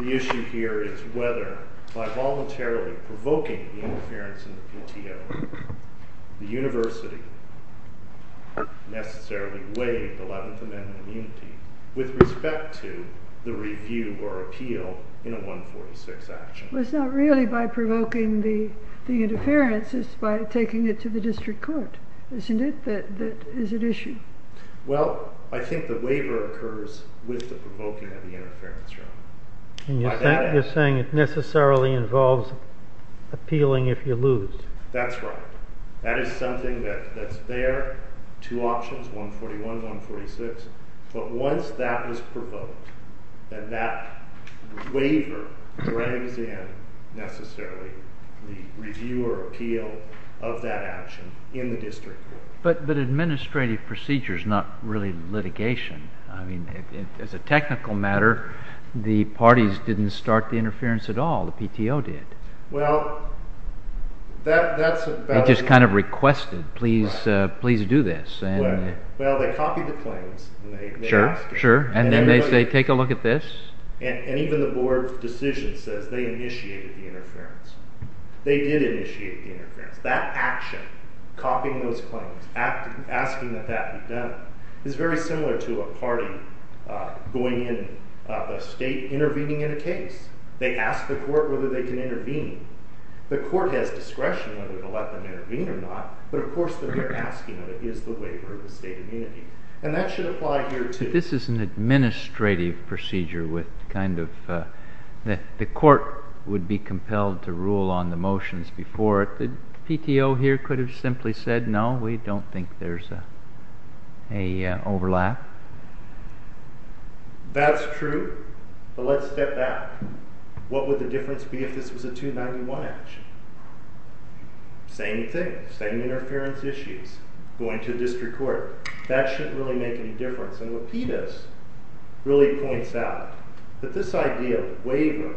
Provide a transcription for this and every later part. The issue here is whether, by voluntarily provoking the interference in the PTO, the university necessarily waived the 11th Amendment immunity with respect to the review or appeal in a 146 action. Well, it's not really by provoking the interference, it's by taking it to the district court, isn't it? That is an issue. Well, I think the waiver occurs with the provoking of the interference. And you're saying it necessarily involves appealing if you lose. That's right. That is something that's there, two options, 141 and 146. But once that is provoked, then that waiver brings in necessarily the review or appeal of that action in the district court. But administrative procedure is not really litigation. I mean, as a technical matter, the parties didn't start the interference at all, the PTO did. Well, that's about it. They just kind of requested, please do this. Well, they copied the claims. Sure, sure. And then they say, take a look at this. And even the board's decision says they initiated the interference. They did initiate the interference. That action, copying those claims, asking that that be done, is very similar to a party going in, a state intervening in a case. They ask the court whether they can intervene. The court has discretion whether to let them intervene or not. But of course, they're asking, is the waiver of the state immunity? And that should apply here, too. But this is an administrative procedure with kind of the court would be compelled to rule on the motions before it. The PTO here could have simply said, no, we don't think there's a overlap. That's true. But let's step back. What would the difference be if this was a 291 action? Same thing. Same interference issues. Going to the district court. That shouldn't really make any difference. And what PETA's really points out, that this idea of waiver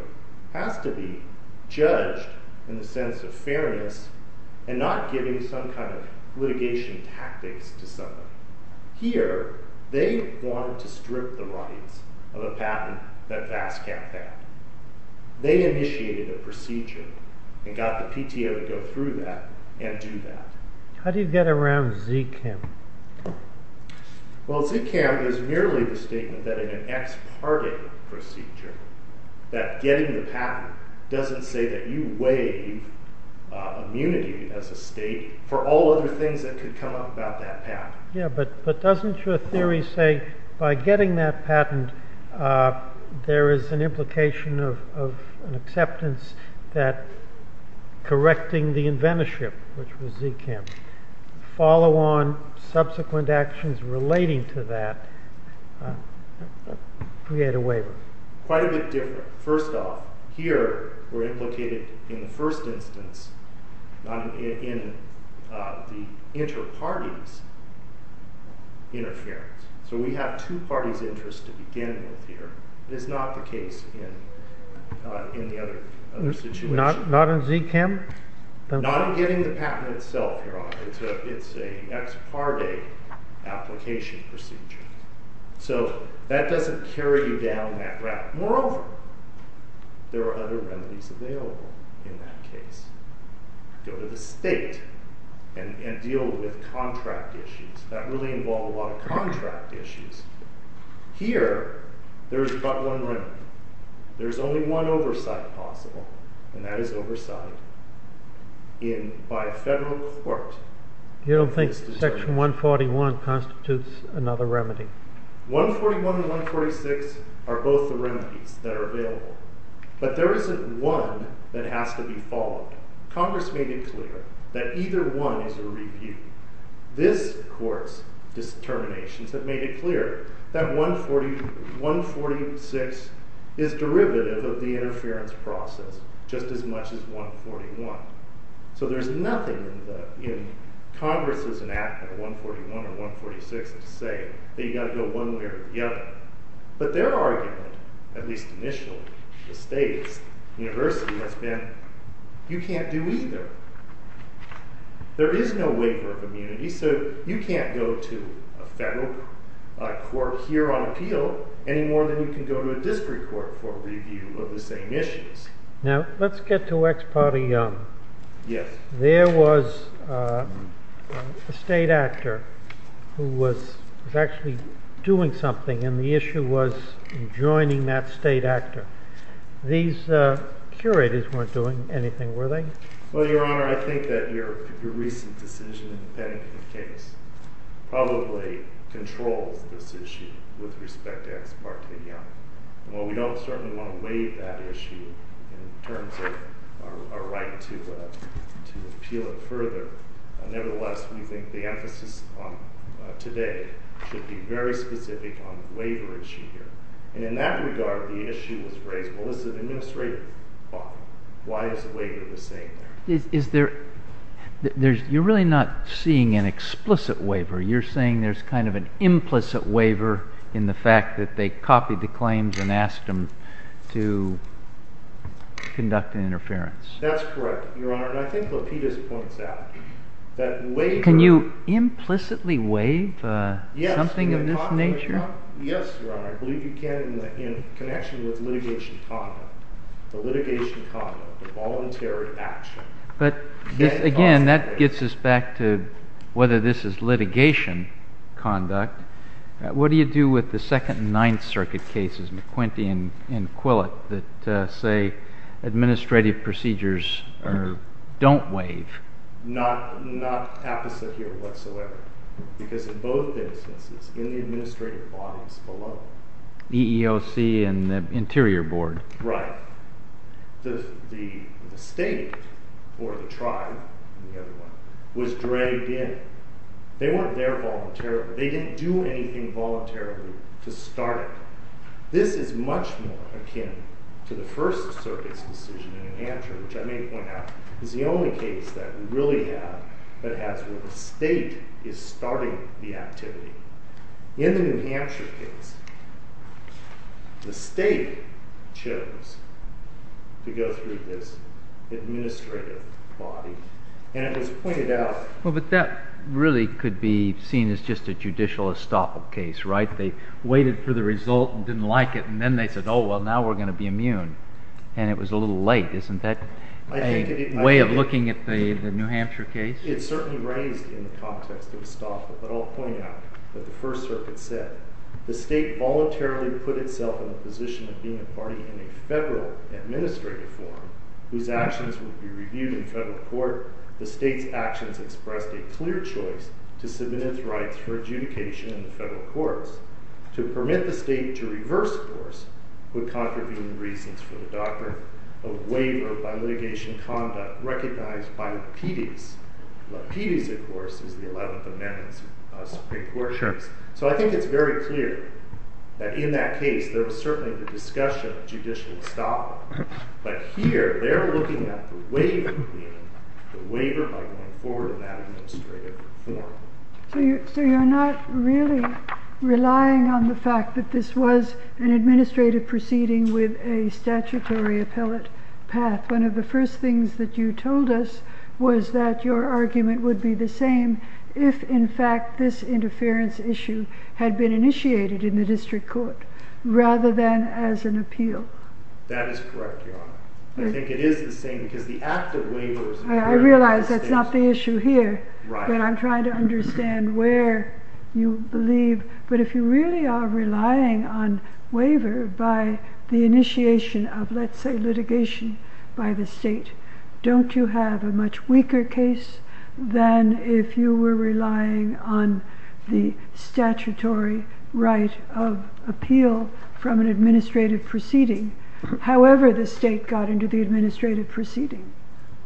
has to be judged in the sense of fairness and not giving some kind of litigation tactics to somebody. Here, they wanted to strip the rights of a patent that VASCAP had. They initiated a procedure and got the PTO to go through that and do that. How do you get around ZCAM? Well, ZCAM is merely the statement that in an ex parte procedure, that getting the patent doesn't say that you waive immunity as a state for all other things that could come up about that patent. Yeah, but doesn't your theory say by getting that patent, there is an implication of an acceptance that correcting the inventorship, which was ZCAM, follow on subsequent actions relating to that, create a waiver? Quite a bit different. First off, here we're implicated in the first instance in the inter-parties interference. So we have two parties' interests to begin with here. It is not the case in the other situation. Not in ZCAM? Not in getting the patent itself, Your Honor. It's an ex parte application procedure. So that doesn't carry you down that route. Moreover, there are other remedies available in that case. Go to the state and deal with contract issues. That really involved a lot of contract issues. Here, there is but one remedy. There is only one oversight possible, and that is oversight by a federal court. You don't think section 141 constitutes another remedy? 141 and 146 are both the remedies that are available. But there isn't one that has to be followed. Congress made it clear that either one is a rebuke. This court's determinations have made it clear that 146 is derivative of the interference process, just as much as 141. So there's nothing in Congress's enactment of 141 or 146 to say that you've got to go one way or the other. But their argument, at least initially, the state's, the university has been, you can't do either. There is no waiver of immunity, so you can't go to a federal court here on appeal any more than you can go to a district court for review of the same issues. Now, let's get to Ex parte Young. Yes. There was a state actor who was actually doing something, and the issue was joining that state actor. These curators weren't doing anything, were they? Well, Your Honor, I think that your recent decision in the Pennington case probably controls this issue with respect to Ex parte Young. Well, we don't certainly want to waive that issue in terms of our right to appeal it further. Nevertheless, we think the emphasis today should be very specific on waiver issue here. And in that regard, the issue was raised, well, this is administrative. Why is the waiver the same there? You're really not seeing an explicit waiver. You're saying there's kind of an implicit waiver in the fact that they copied the claims and asked them to conduct an interference. That's correct, Your Honor, and I think Lapidus points out that waiver Can you implicitly waive something of this nature? Yes, Your Honor, I believe you can in connection with litigation conduct, the litigation conduct, the voluntary action. But again, that gets us back to whether this is litigation conduct. What do you do with the Second and Ninth Circuit cases, McQuinty and Quillett, that say administrative procedures don't waive? Not apposite here whatsoever, because in both instances, in the administrative bodies below. EEOC and the Interior Board. Right. The state or the tribe was dragged in. They weren't there voluntarily. They didn't do anything voluntarily to start it. This is much more akin to the First Circuit's decision in New Hampshire, which I may point out is the only case that we really have that has where the state is starting the activity. In the New Hampshire case, the state chose to go through this administrative body, and it was pointed out. Well, but that really could be seen as just a judicial estoppel case, right? They waited for the result and didn't like it, and then they said, oh, well, now we're going to be immune, and it was a little late. Isn't that a way of looking at the New Hampshire case? It certainly reigns in the context of estoppel, but I'll point out what the First Circuit said. The state voluntarily put itself in the position of being a party in a federal administrative forum whose actions would be reviewed in federal court. The state's actions expressed a clear choice to submit its rights for adjudication in the federal courts. To permit the state to reverse course would contravene the reasons for the doctrine of waiver by litigation conduct recognized by Petey's. Petey's, of course, is the 11th Amendment Supreme Court. So I think it's very clear that in that case there was certainly the discussion of judicial estoppel, but here they're looking at the waiver by going forward in that administrative forum. So you're not really relying on the fact that this was an administrative proceeding with a statutory appellate path. One of the first things that you told us was that your argument would be the same if, in fact, this interference issue had been initiated in the district court rather than as an appeal. That is correct, Your Honor. I think it is the same because the act of waiver... I realize that's not the issue here, but I'm trying to understand where you believe. But if you really are relying on waiver by the initiation of, let's say, litigation by the state, don't you have a much weaker case than if you were relying on the statutory right of appeal from an administrative proceeding, however the state got into the administrative proceeding?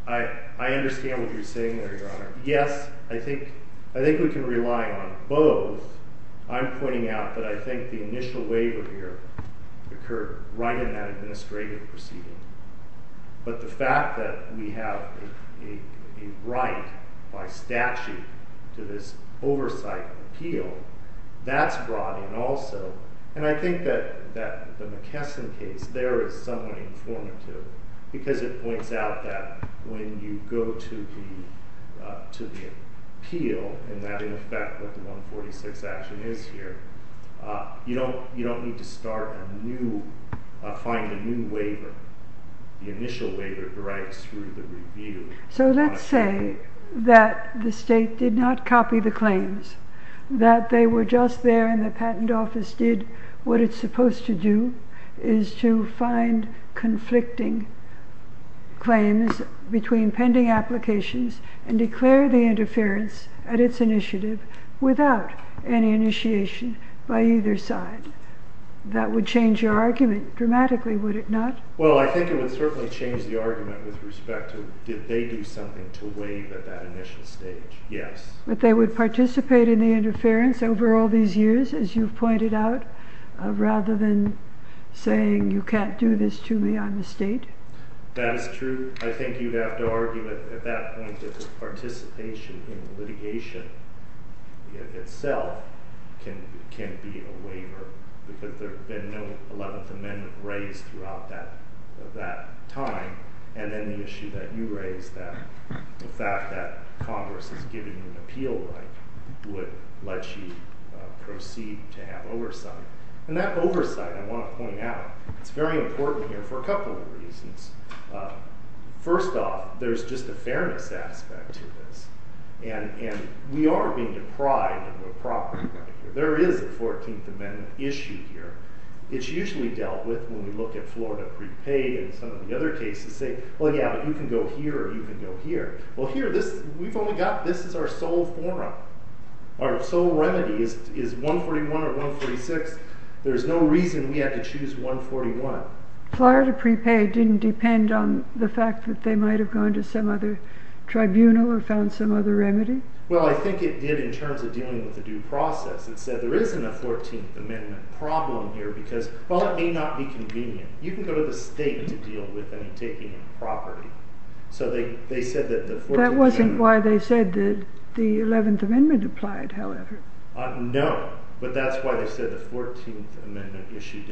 I understand what you're saying there, Your Honor. Yes, I think we can rely on both. I'm pointing out that I think the initial waiver here occurred right in that administrative proceeding. But the fact that we have a right by statute to this oversight appeal, that's brought in also. And I think that the McKesson case there is somewhat informative because it points out that when you go to the appeal and that in effect what the 146 action is here, you don't need to find a new waiver. The initial waiver derives through the review. So let's say that the state did not copy the claims, that they were just there and the patent office did what it's supposed to do, is to find conflicting claims between pending applications and declare the interference at its initiative without any initiation by either side. That would change your argument dramatically, would it not? Well, I think it would certainly change the argument with respect to did they do something to waive at that initial stage? Yes. But they would participate in the interference over all these years, as you've pointed out, rather than saying you can't do this to me on the state? That is true. I think you'd have to argue at that point that the participation in litigation itself can be a waiver because there's been no 11th Amendment raised throughout that time. And then the issue that you raised that the fact that Congress is giving an appeal right would let you proceed to have oversight. And that oversight, I want to point out, it's very important here for a couple of reasons. First off, there's just a fairness aspect to this. And we are being deprived of a property right here. There is a 14th Amendment issue here. It's usually dealt with when we look at Florida prepaid and some of the other cases, say, well, yeah, but you can go here or you can go here. Well, here, we've only got, this is our sole forum. Our sole remedy is 141 or 146. There's no reason we had to choose 141. Florida prepaid didn't depend on the fact that they might have gone to some other tribunal or found some other remedy? Well, I think it did in terms of dealing with the due process. It said there isn't a 14th Amendment problem here because, well, it may not be convenient. You can go to the state to deal with any taking of property. So they said that the 14th Amendment... That wasn't why they said that the 11th Amendment applied, however. No, but that's why they said the 14th Amendment issue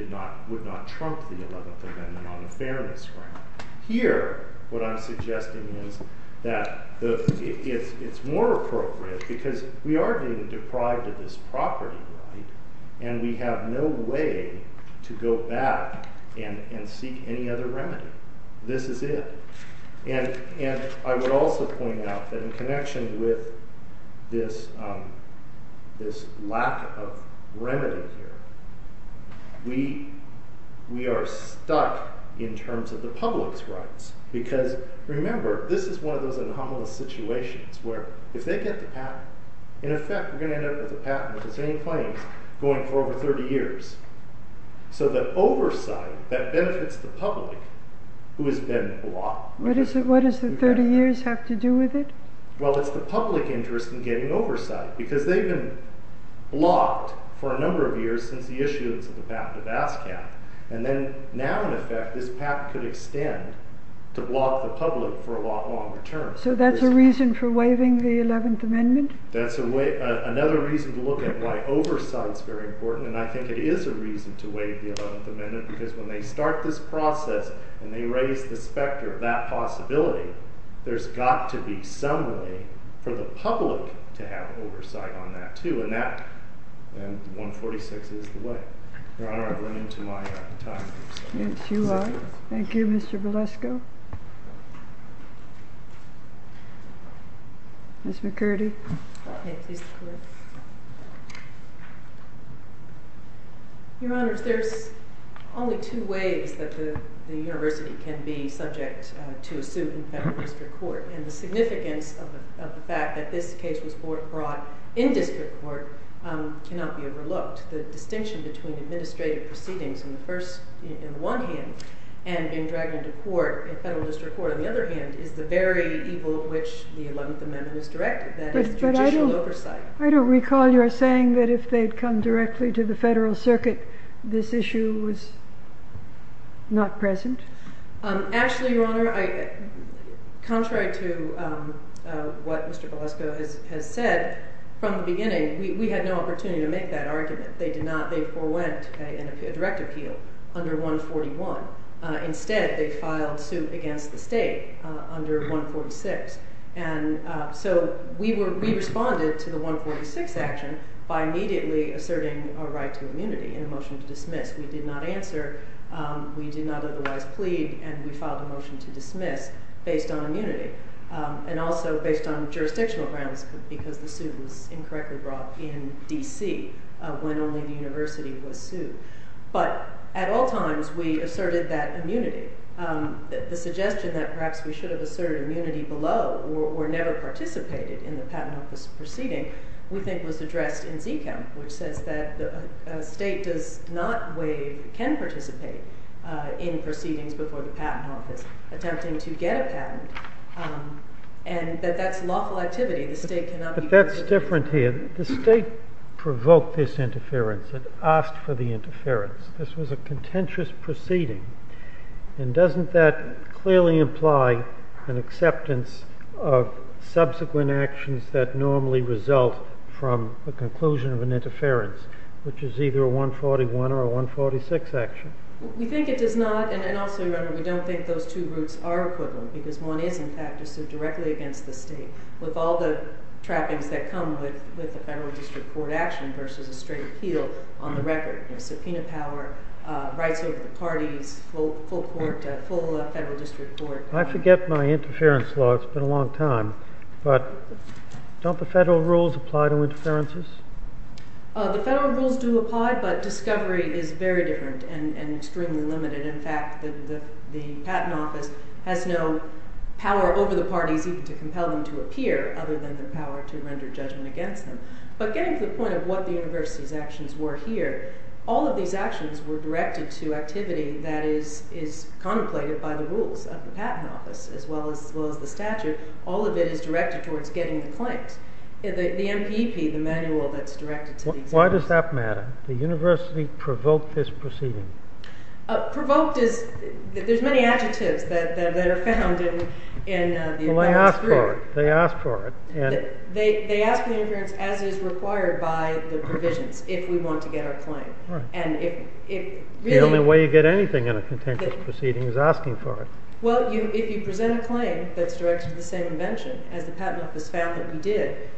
would not trump the 11th Amendment on a fairness ground. Here, what I'm suggesting is that it's more appropriate because we are being deprived of this property, right? And we have no way to go back and seek any other remedy. This is it. And I would also point out that in connection with this lack of remedy here, we are stuck in terms of the public's rights. Because remember, this is one of those anomalous situations where if they get the patent, in effect, we're going to end up with a patent with the same claims going for over 30 years. So the oversight that benefits the public who has been blocked... What does the 30 years have to do with it? Well, it's the public interest in getting oversight because they've been blocked for a number of years since the issuance of the patent of ASCAP. And then now, in effect, this patent could extend to block the public for a lot longer term. So that's a reason for waiving the 11th Amendment? That's another reason to look at why oversight is very important. And I think it is a reason to waive the 11th Amendment because when they start this process and they raise the specter of that possibility, there's got to be some way for the public to have oversight on that, too. And 146 is the way. Your Honor, I've run into my time. Yes, you are. Thank you, Mr. Valesko. Ms. McCurdy. Your Honor, there's only two ways that the university can be subject to a suit in federal district court. And the significance of the fact that this case was brought in district court cannot be overlooked. The distinction between administrative proceedings in one hand and being dragged into federal district court in the other hand is the very evil of which the 11th Amendment is directed, that is, judicial oversight. I don't recall your saying that if they'd come directly to the federal circuit, this issue was not present. Actually, Your Honor, contrary to what Mr. Valesko has said, from the beginning, we had no opportunity to make that argument. They did not. They forewent a direct appeal under 141. Instead, they filed suit against the state under 146. And so we responded to the 146 action by immediately asserting our right to immunity in the motion to dismiss. We did not answer. We did not otherwise plead. And we filed a motion to dismiss based on immunity and also based on jurisdictional grounds because the suit was incorrectly brought in D.C. when only the university was sued. But at all times, we asserted that immunity. The suggestion that perhaps we should have asserted immunity below or never participated in the patent office proceeding, we think, was addressed in ZKEMP, which says that a state does not waive, can participate in proceedings before the patent office attempting to get a patent. And that that's lawful activity. The state cannot be part of it. But that's different here. The state provoked this interference. It asked for the interference. This was a contentious proceeding. And doesn't that clearly imply an acceptance of subsequent actions that normally result from the conclusion of an interference, which is either a 141 or a 146 action? We think it does not. And also, remember, we don't think those two groups are equivalent. Because one is, in fact, a suit directly against the state with all the trappings that come with the federal district court action versus a straight appeal on the record. Subpoena power, rights over the parties, full federal district court. I forget my interference law. It's been a long time. But don't the federal rules apply to interferences? The federal rules do apply. But discovery is very different and extremely limited. In fact, the patent office has no power over the parties even to compel them to appear other than the power to render judgment against them. But getting to the point of what the university's actions were here, all of these actions were directed to activity that is contemplated by the rules of the patent office as well as the statute. All of it is directed towards getting the claims. The MPP, the manual that's directed to the examiner. Why does that matter? The university provoked this proceeding. Provoked is, there's many adjectives that are found in the above. Well, they asked for it. They asked for it. They asked for the interference as is required by the provisions if we want to get our claim. And if it really. The only way you get anything in a contentious proceeding is asking for it. Well, if you present a claim that's directed to the same invention as the patent office found that we did,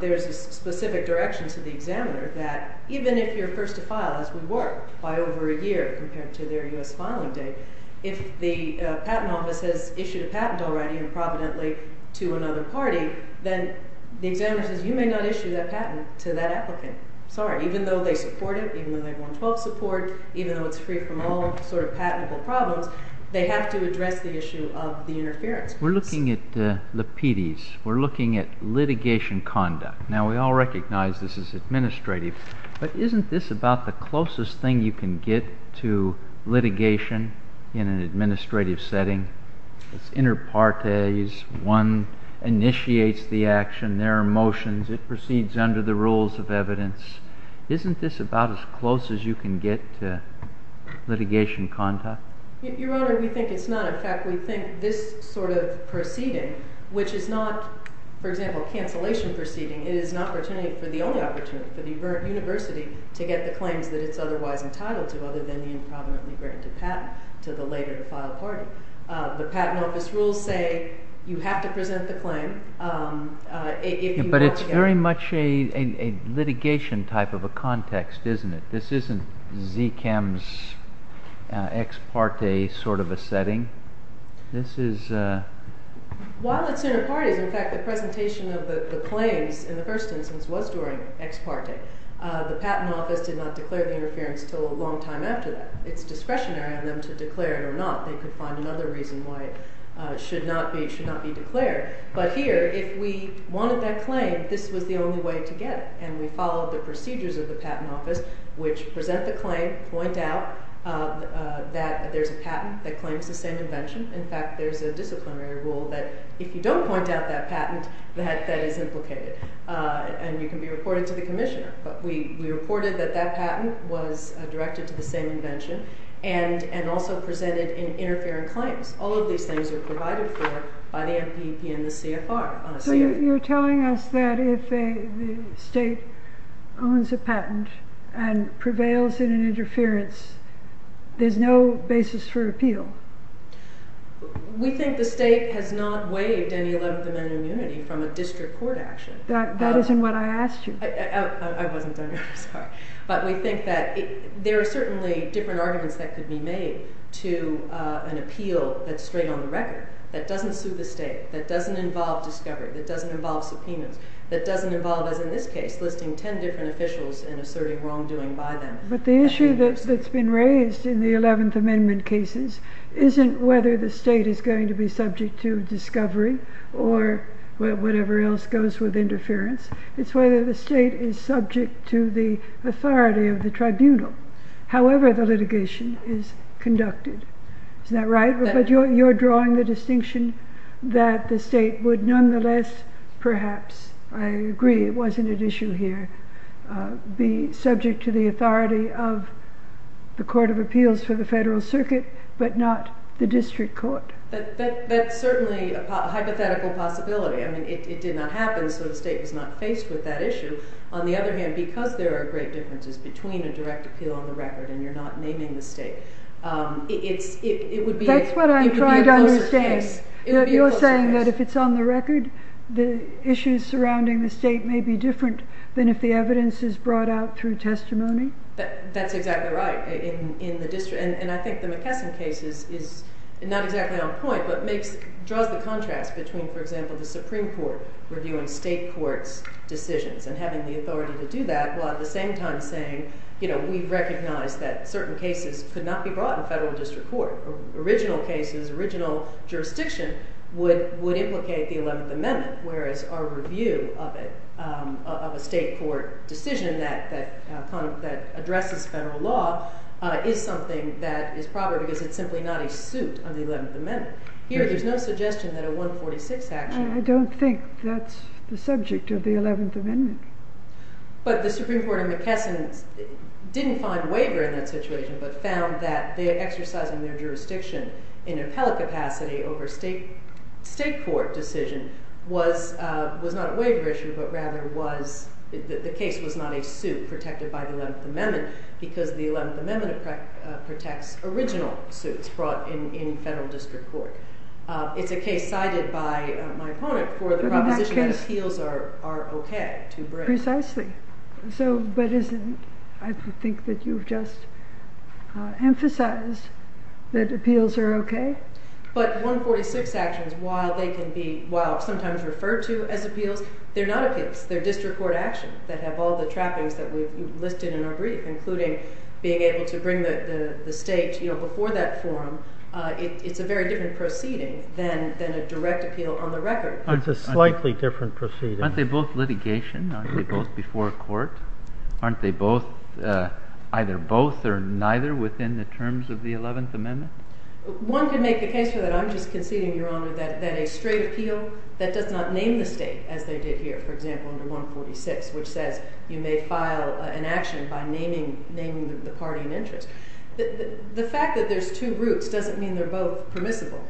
there's a specific direction to the examiner that even if you're first to file, as we were, by over a year compared to their U.S. filing date. If the patent office has issued a patent already and providently to another party, then the examiner says you may not issue that patent to that applicant. Sorry, even though they support it, even though they want full support, even though it's free from all sort of patentable problems, they have to address the issue of the interference. We're looking at the PDs. We're looking at litigation conduct. Now, we all recognize this is administrative. But isn't this about the closest thing you can get to litigation in an administrative setting? It's inter partes. One initiates the action. There are motions. It proceeds under the rules of evidence. Isn't this about as close as you can get to litigation conduct? Your Honor, we think it's not. In fact, we think this sort of proceeding, which is not, for example, a cancellation proceeding, it is an opportunity for the only opportunity, for the university to get the claims that it's otherwise entitled to other than the improvidently granted patent to the later to file party. The patent office rules say you have to present the claim. But it's very much a litigation type of a context, isn't it? This isn't Zchem's ex parte sort of a setting. While it's inter partes, in fact, the presentation of the claims in the first instance was during ex parte. The patent office did not declare the interference until a long time after that. It's discretionary on them to declare it or not. They could find another reason why it should not be declared. But here, if we wanted that claim, this was the only way to get it. And we followed the procedures of the patent office, which present the claim, point out that there's a patent that claims the same invention. In fact, there's a disciplinary rule that if you don't point out that patent, that is implicated. And you can be reported to the commissioner. But we reported that that patent was directed to the same invention and also presented in interfering claims. All of these things are provided for by the MPP and the CFR. So you're telling us that if a state owns a patent and prevails in an interference, there's no basis for appeal? We think the state has not waived any 11th Amendment immunity from a district court action. That isn't what I asked you. I wasn't, I'm sorry. But we think that there are certainly different arguments that could be made to an appeal that's straight on the record, that doesn't suit the state, that doesn't involve discovery, that doesn't involve subpoenas, that doesn't involve, as in this case, listing 10 different officials and asserting wrongdoing by them. But the issue that's been raised in the 11th Amendment cases isn't whether the state is going to be subject to discovery or whatever else goes with interference. It's whether the state is subject to the authority of the tribunal, however the litigation is conducted. Isn't that right? But you're drawing the distinction that the state would nonetheless perhaps, I agree it wasn't an issue here, be subject to the authority of the Court of Appeals for the Federal Circuit but not the district court. That's certainly a hypothetical possibility. I mean, it did not happen, so the state was not faced with that issue. On the other hand, because there are great differences between a direct appeal on the record and you're not naming the state, it would be a closer case. That's what I'm trying to understand. You're saying that if it's on the record, the issues surrounding the state may be different than if the evidence is brought out through testimony? That's exactly right. And I think the McKesson case is not exactly on point but draws the contrast between, for example, the Supreme Court reviewing state courts' decisions and having the authority to do that while at the same time saying, you know, we recognize that certain cases could not be brought in federal district court. Original cases, original jurisdiction would implicate the 11th Amendment, whereas our review of it, of a state court decision that addresses federal law, is something that is proper because it's simply not a suit on the 11th Amendment. Here, there's no suggestion that a 146 action... I don't think that's the subject of the 11th Amendment. But the Supreme Court in McKesson didn't find waiver in that situation but found that they're exercising their jurisdiction in appellate capacity over state court decision was not a waiver issue but rather was, the case was not a suit protected by the 11th Amendment because the 11th Amendment protects original suits brought in federal district court. It's a case cited by my opponent for the proposition that appeals are okay to bring. Precisely. So, but isn't, I think that you've just emphasized that appeals are okay. But 146 actions, while they can be, while sometimes referred to as appeals, they're not appeals. They're district court actions that have all the trappings that we've listed in our brief, including being able to bring the state, you know, before that forum. It's a very different proceeding than a direct appeal on the record. It's a slightly different proceeding. Aren't they both litigation? Aren't they both before court? Aren't they both, either both or neither within the terms of the 11th Amendment? One can make the case for that. I'm just conceding, Your Honor, that a straight appeal, that does not name the state as they did here, for example, under 146, which says you may file an action by naming the party in interest. The fact that there's two roots doesn't mean they're both permissible.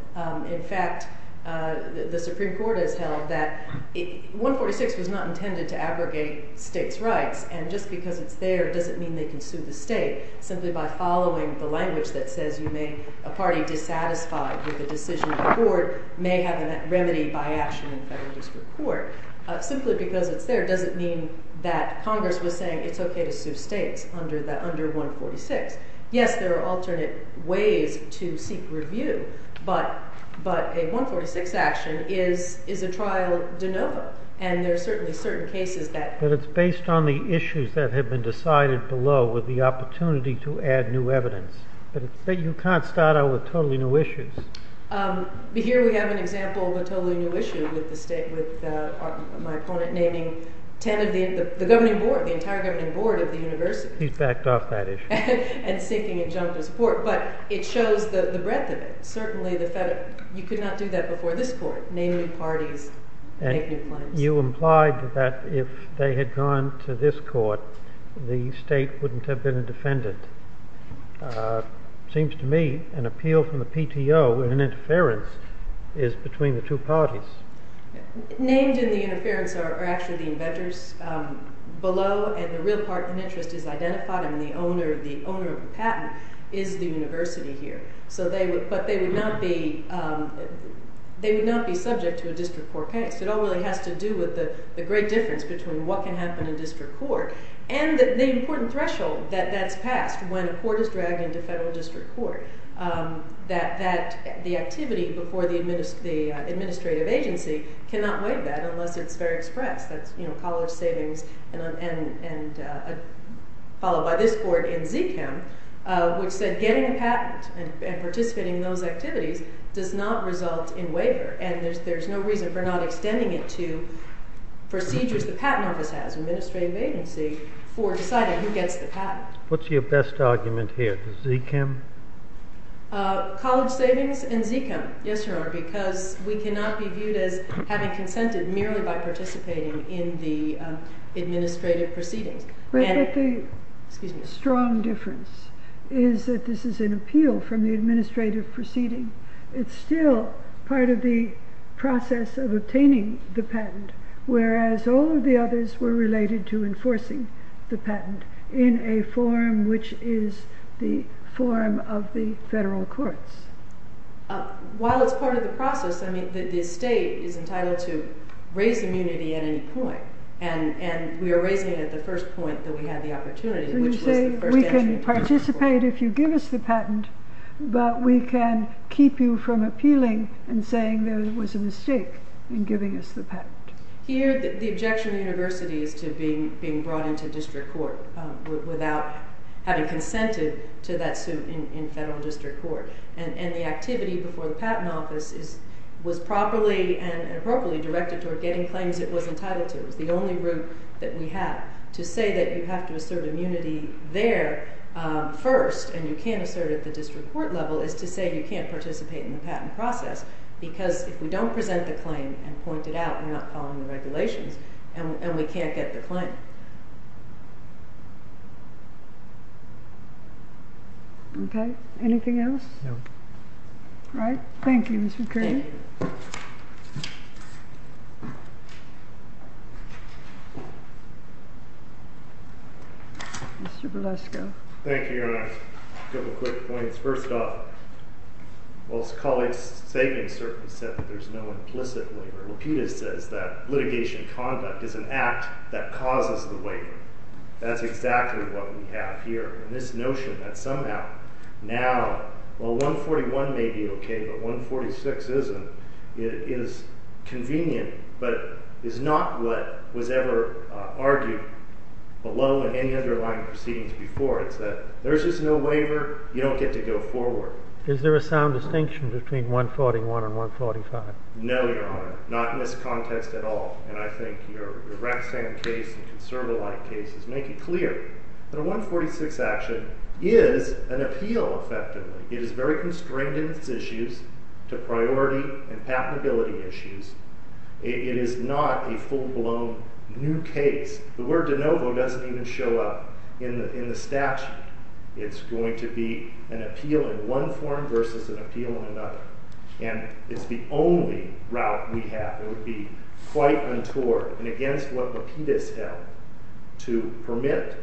In fact, the Supreme Court has held that 146 was not intended to abrogate states' rights. And just because it's there doesn't mean they can sue the state. Simply by following the language that says you may, a party dissatisfied with a decision of the court may have a remedy by action in federal district court. Simply because it's there doesn't mean that Congress was saying it's okay to sue states under 146. Yes, there are alternate ways to seek review, but a 146 action is a trial de novo. And there are certainly certain cases that— But it's based on the issues that have been decided below with the opportunity to add new evidence. But you can't start out with totally new issues. Here we have an example of a totally new issue with my opponent naming the entire governing board of the university. He's backed off that issue. And seeking adjunctive support. But it shows the breadth of it. Certainly, you could not do that before this court, naming parties that make new claims. You implied that if they had gone to this court, the state wouldn't have been a defendant. Seems to me an appeal from the PTO in interference is between the two parties. Named in the interference are actually the inventors below. And the real part and interest is identified in the owner of the patent is the university here. But they would not be subject to a district court case. It all really has to do with the great difference between what can happen in district court. And the important threshold that that's passed when a court is dragged into federal district court. That the activity before the administrative agency cannot waive that unless it's fair express. That's college savings and followed by this court in ZCAM. Which said getting a patent and participating in those activities does not result in waiver. And there's no reason for not extending it to procedures. The patent office has an administrative agency for deciding who gets the patent. What's your best argument here? ZCAM? College savings and ZCAM. Yes, Your Honor. Because we cannot be viewed as having consented merely by participating in the administrative proceedings. But the strong difference is that this is an appeal from the administrative proceeding. It's still part of the process of obtaining the patent. Whereas all of the others were related to enforcing the patent in a form which is the form of the federal courts. While it's part of the process, the state is entitled to raise immunity at any point. And we are raising it at the first point that we had the opportunity. So you say we can participate if you give us the patent. But we can keep you from appealing and saying there was a mistake in giving us the patent. Here the objection of the university is to being brought into district court without having consented to that suit in federal district court. And the activity before the patent office was properly and appropriately directed toward getting claims it was entitled to. It was the only route that we had. To say that you have to assert immunity there first and you can't assert it at the district court level is to say you can't participate in the patent process. Because if we don't present the claim and point it out, we're not following the regulations and we can't get the claim. Okay. Anything else? No. All right. Thank you, Mr. Kirby. Mr. Berlusco. Thank you, Your Honor. A couple of quick points. First off, while his colleague Sagan certainly said that there's no implicit waiver, Laputa says that litigation conduct is an act that causes the waiver. That's exactly what we have here. And this notion that somehow now, well, 141 may be okay, but 146 isn't, is convenient, but is not what was ever argued below any underlying proceedings before. It's that there's just no waiver. You don't get to go forward. Is there a sound distinction between 141 and 145? No, Your Honor. Not in this context at all. And I think your Rexham case and conserva-like cases make it clear that a 146 action is an appeal, effectively. It is very constrained in its issues to priority and patentability issues. It is not a full-blown new case. The word de novo doesn't even show up in the statute. It's going to be an appeal in one form versus an appeal in another. And it's the only route we have. It would be quite untoward, and against what Laputa's held, to permit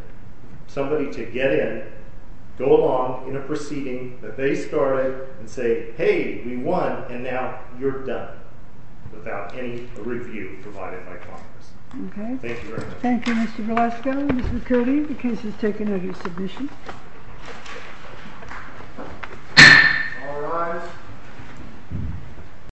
somebody to get in, go along in a proceeding that they started, and say, Hey, we won, and now you're done, without any review provided by Congress. Okay. Thank you very much. Thank you, Mr. Velasco. Mrs. Cody, the case is taken under submission. All rise.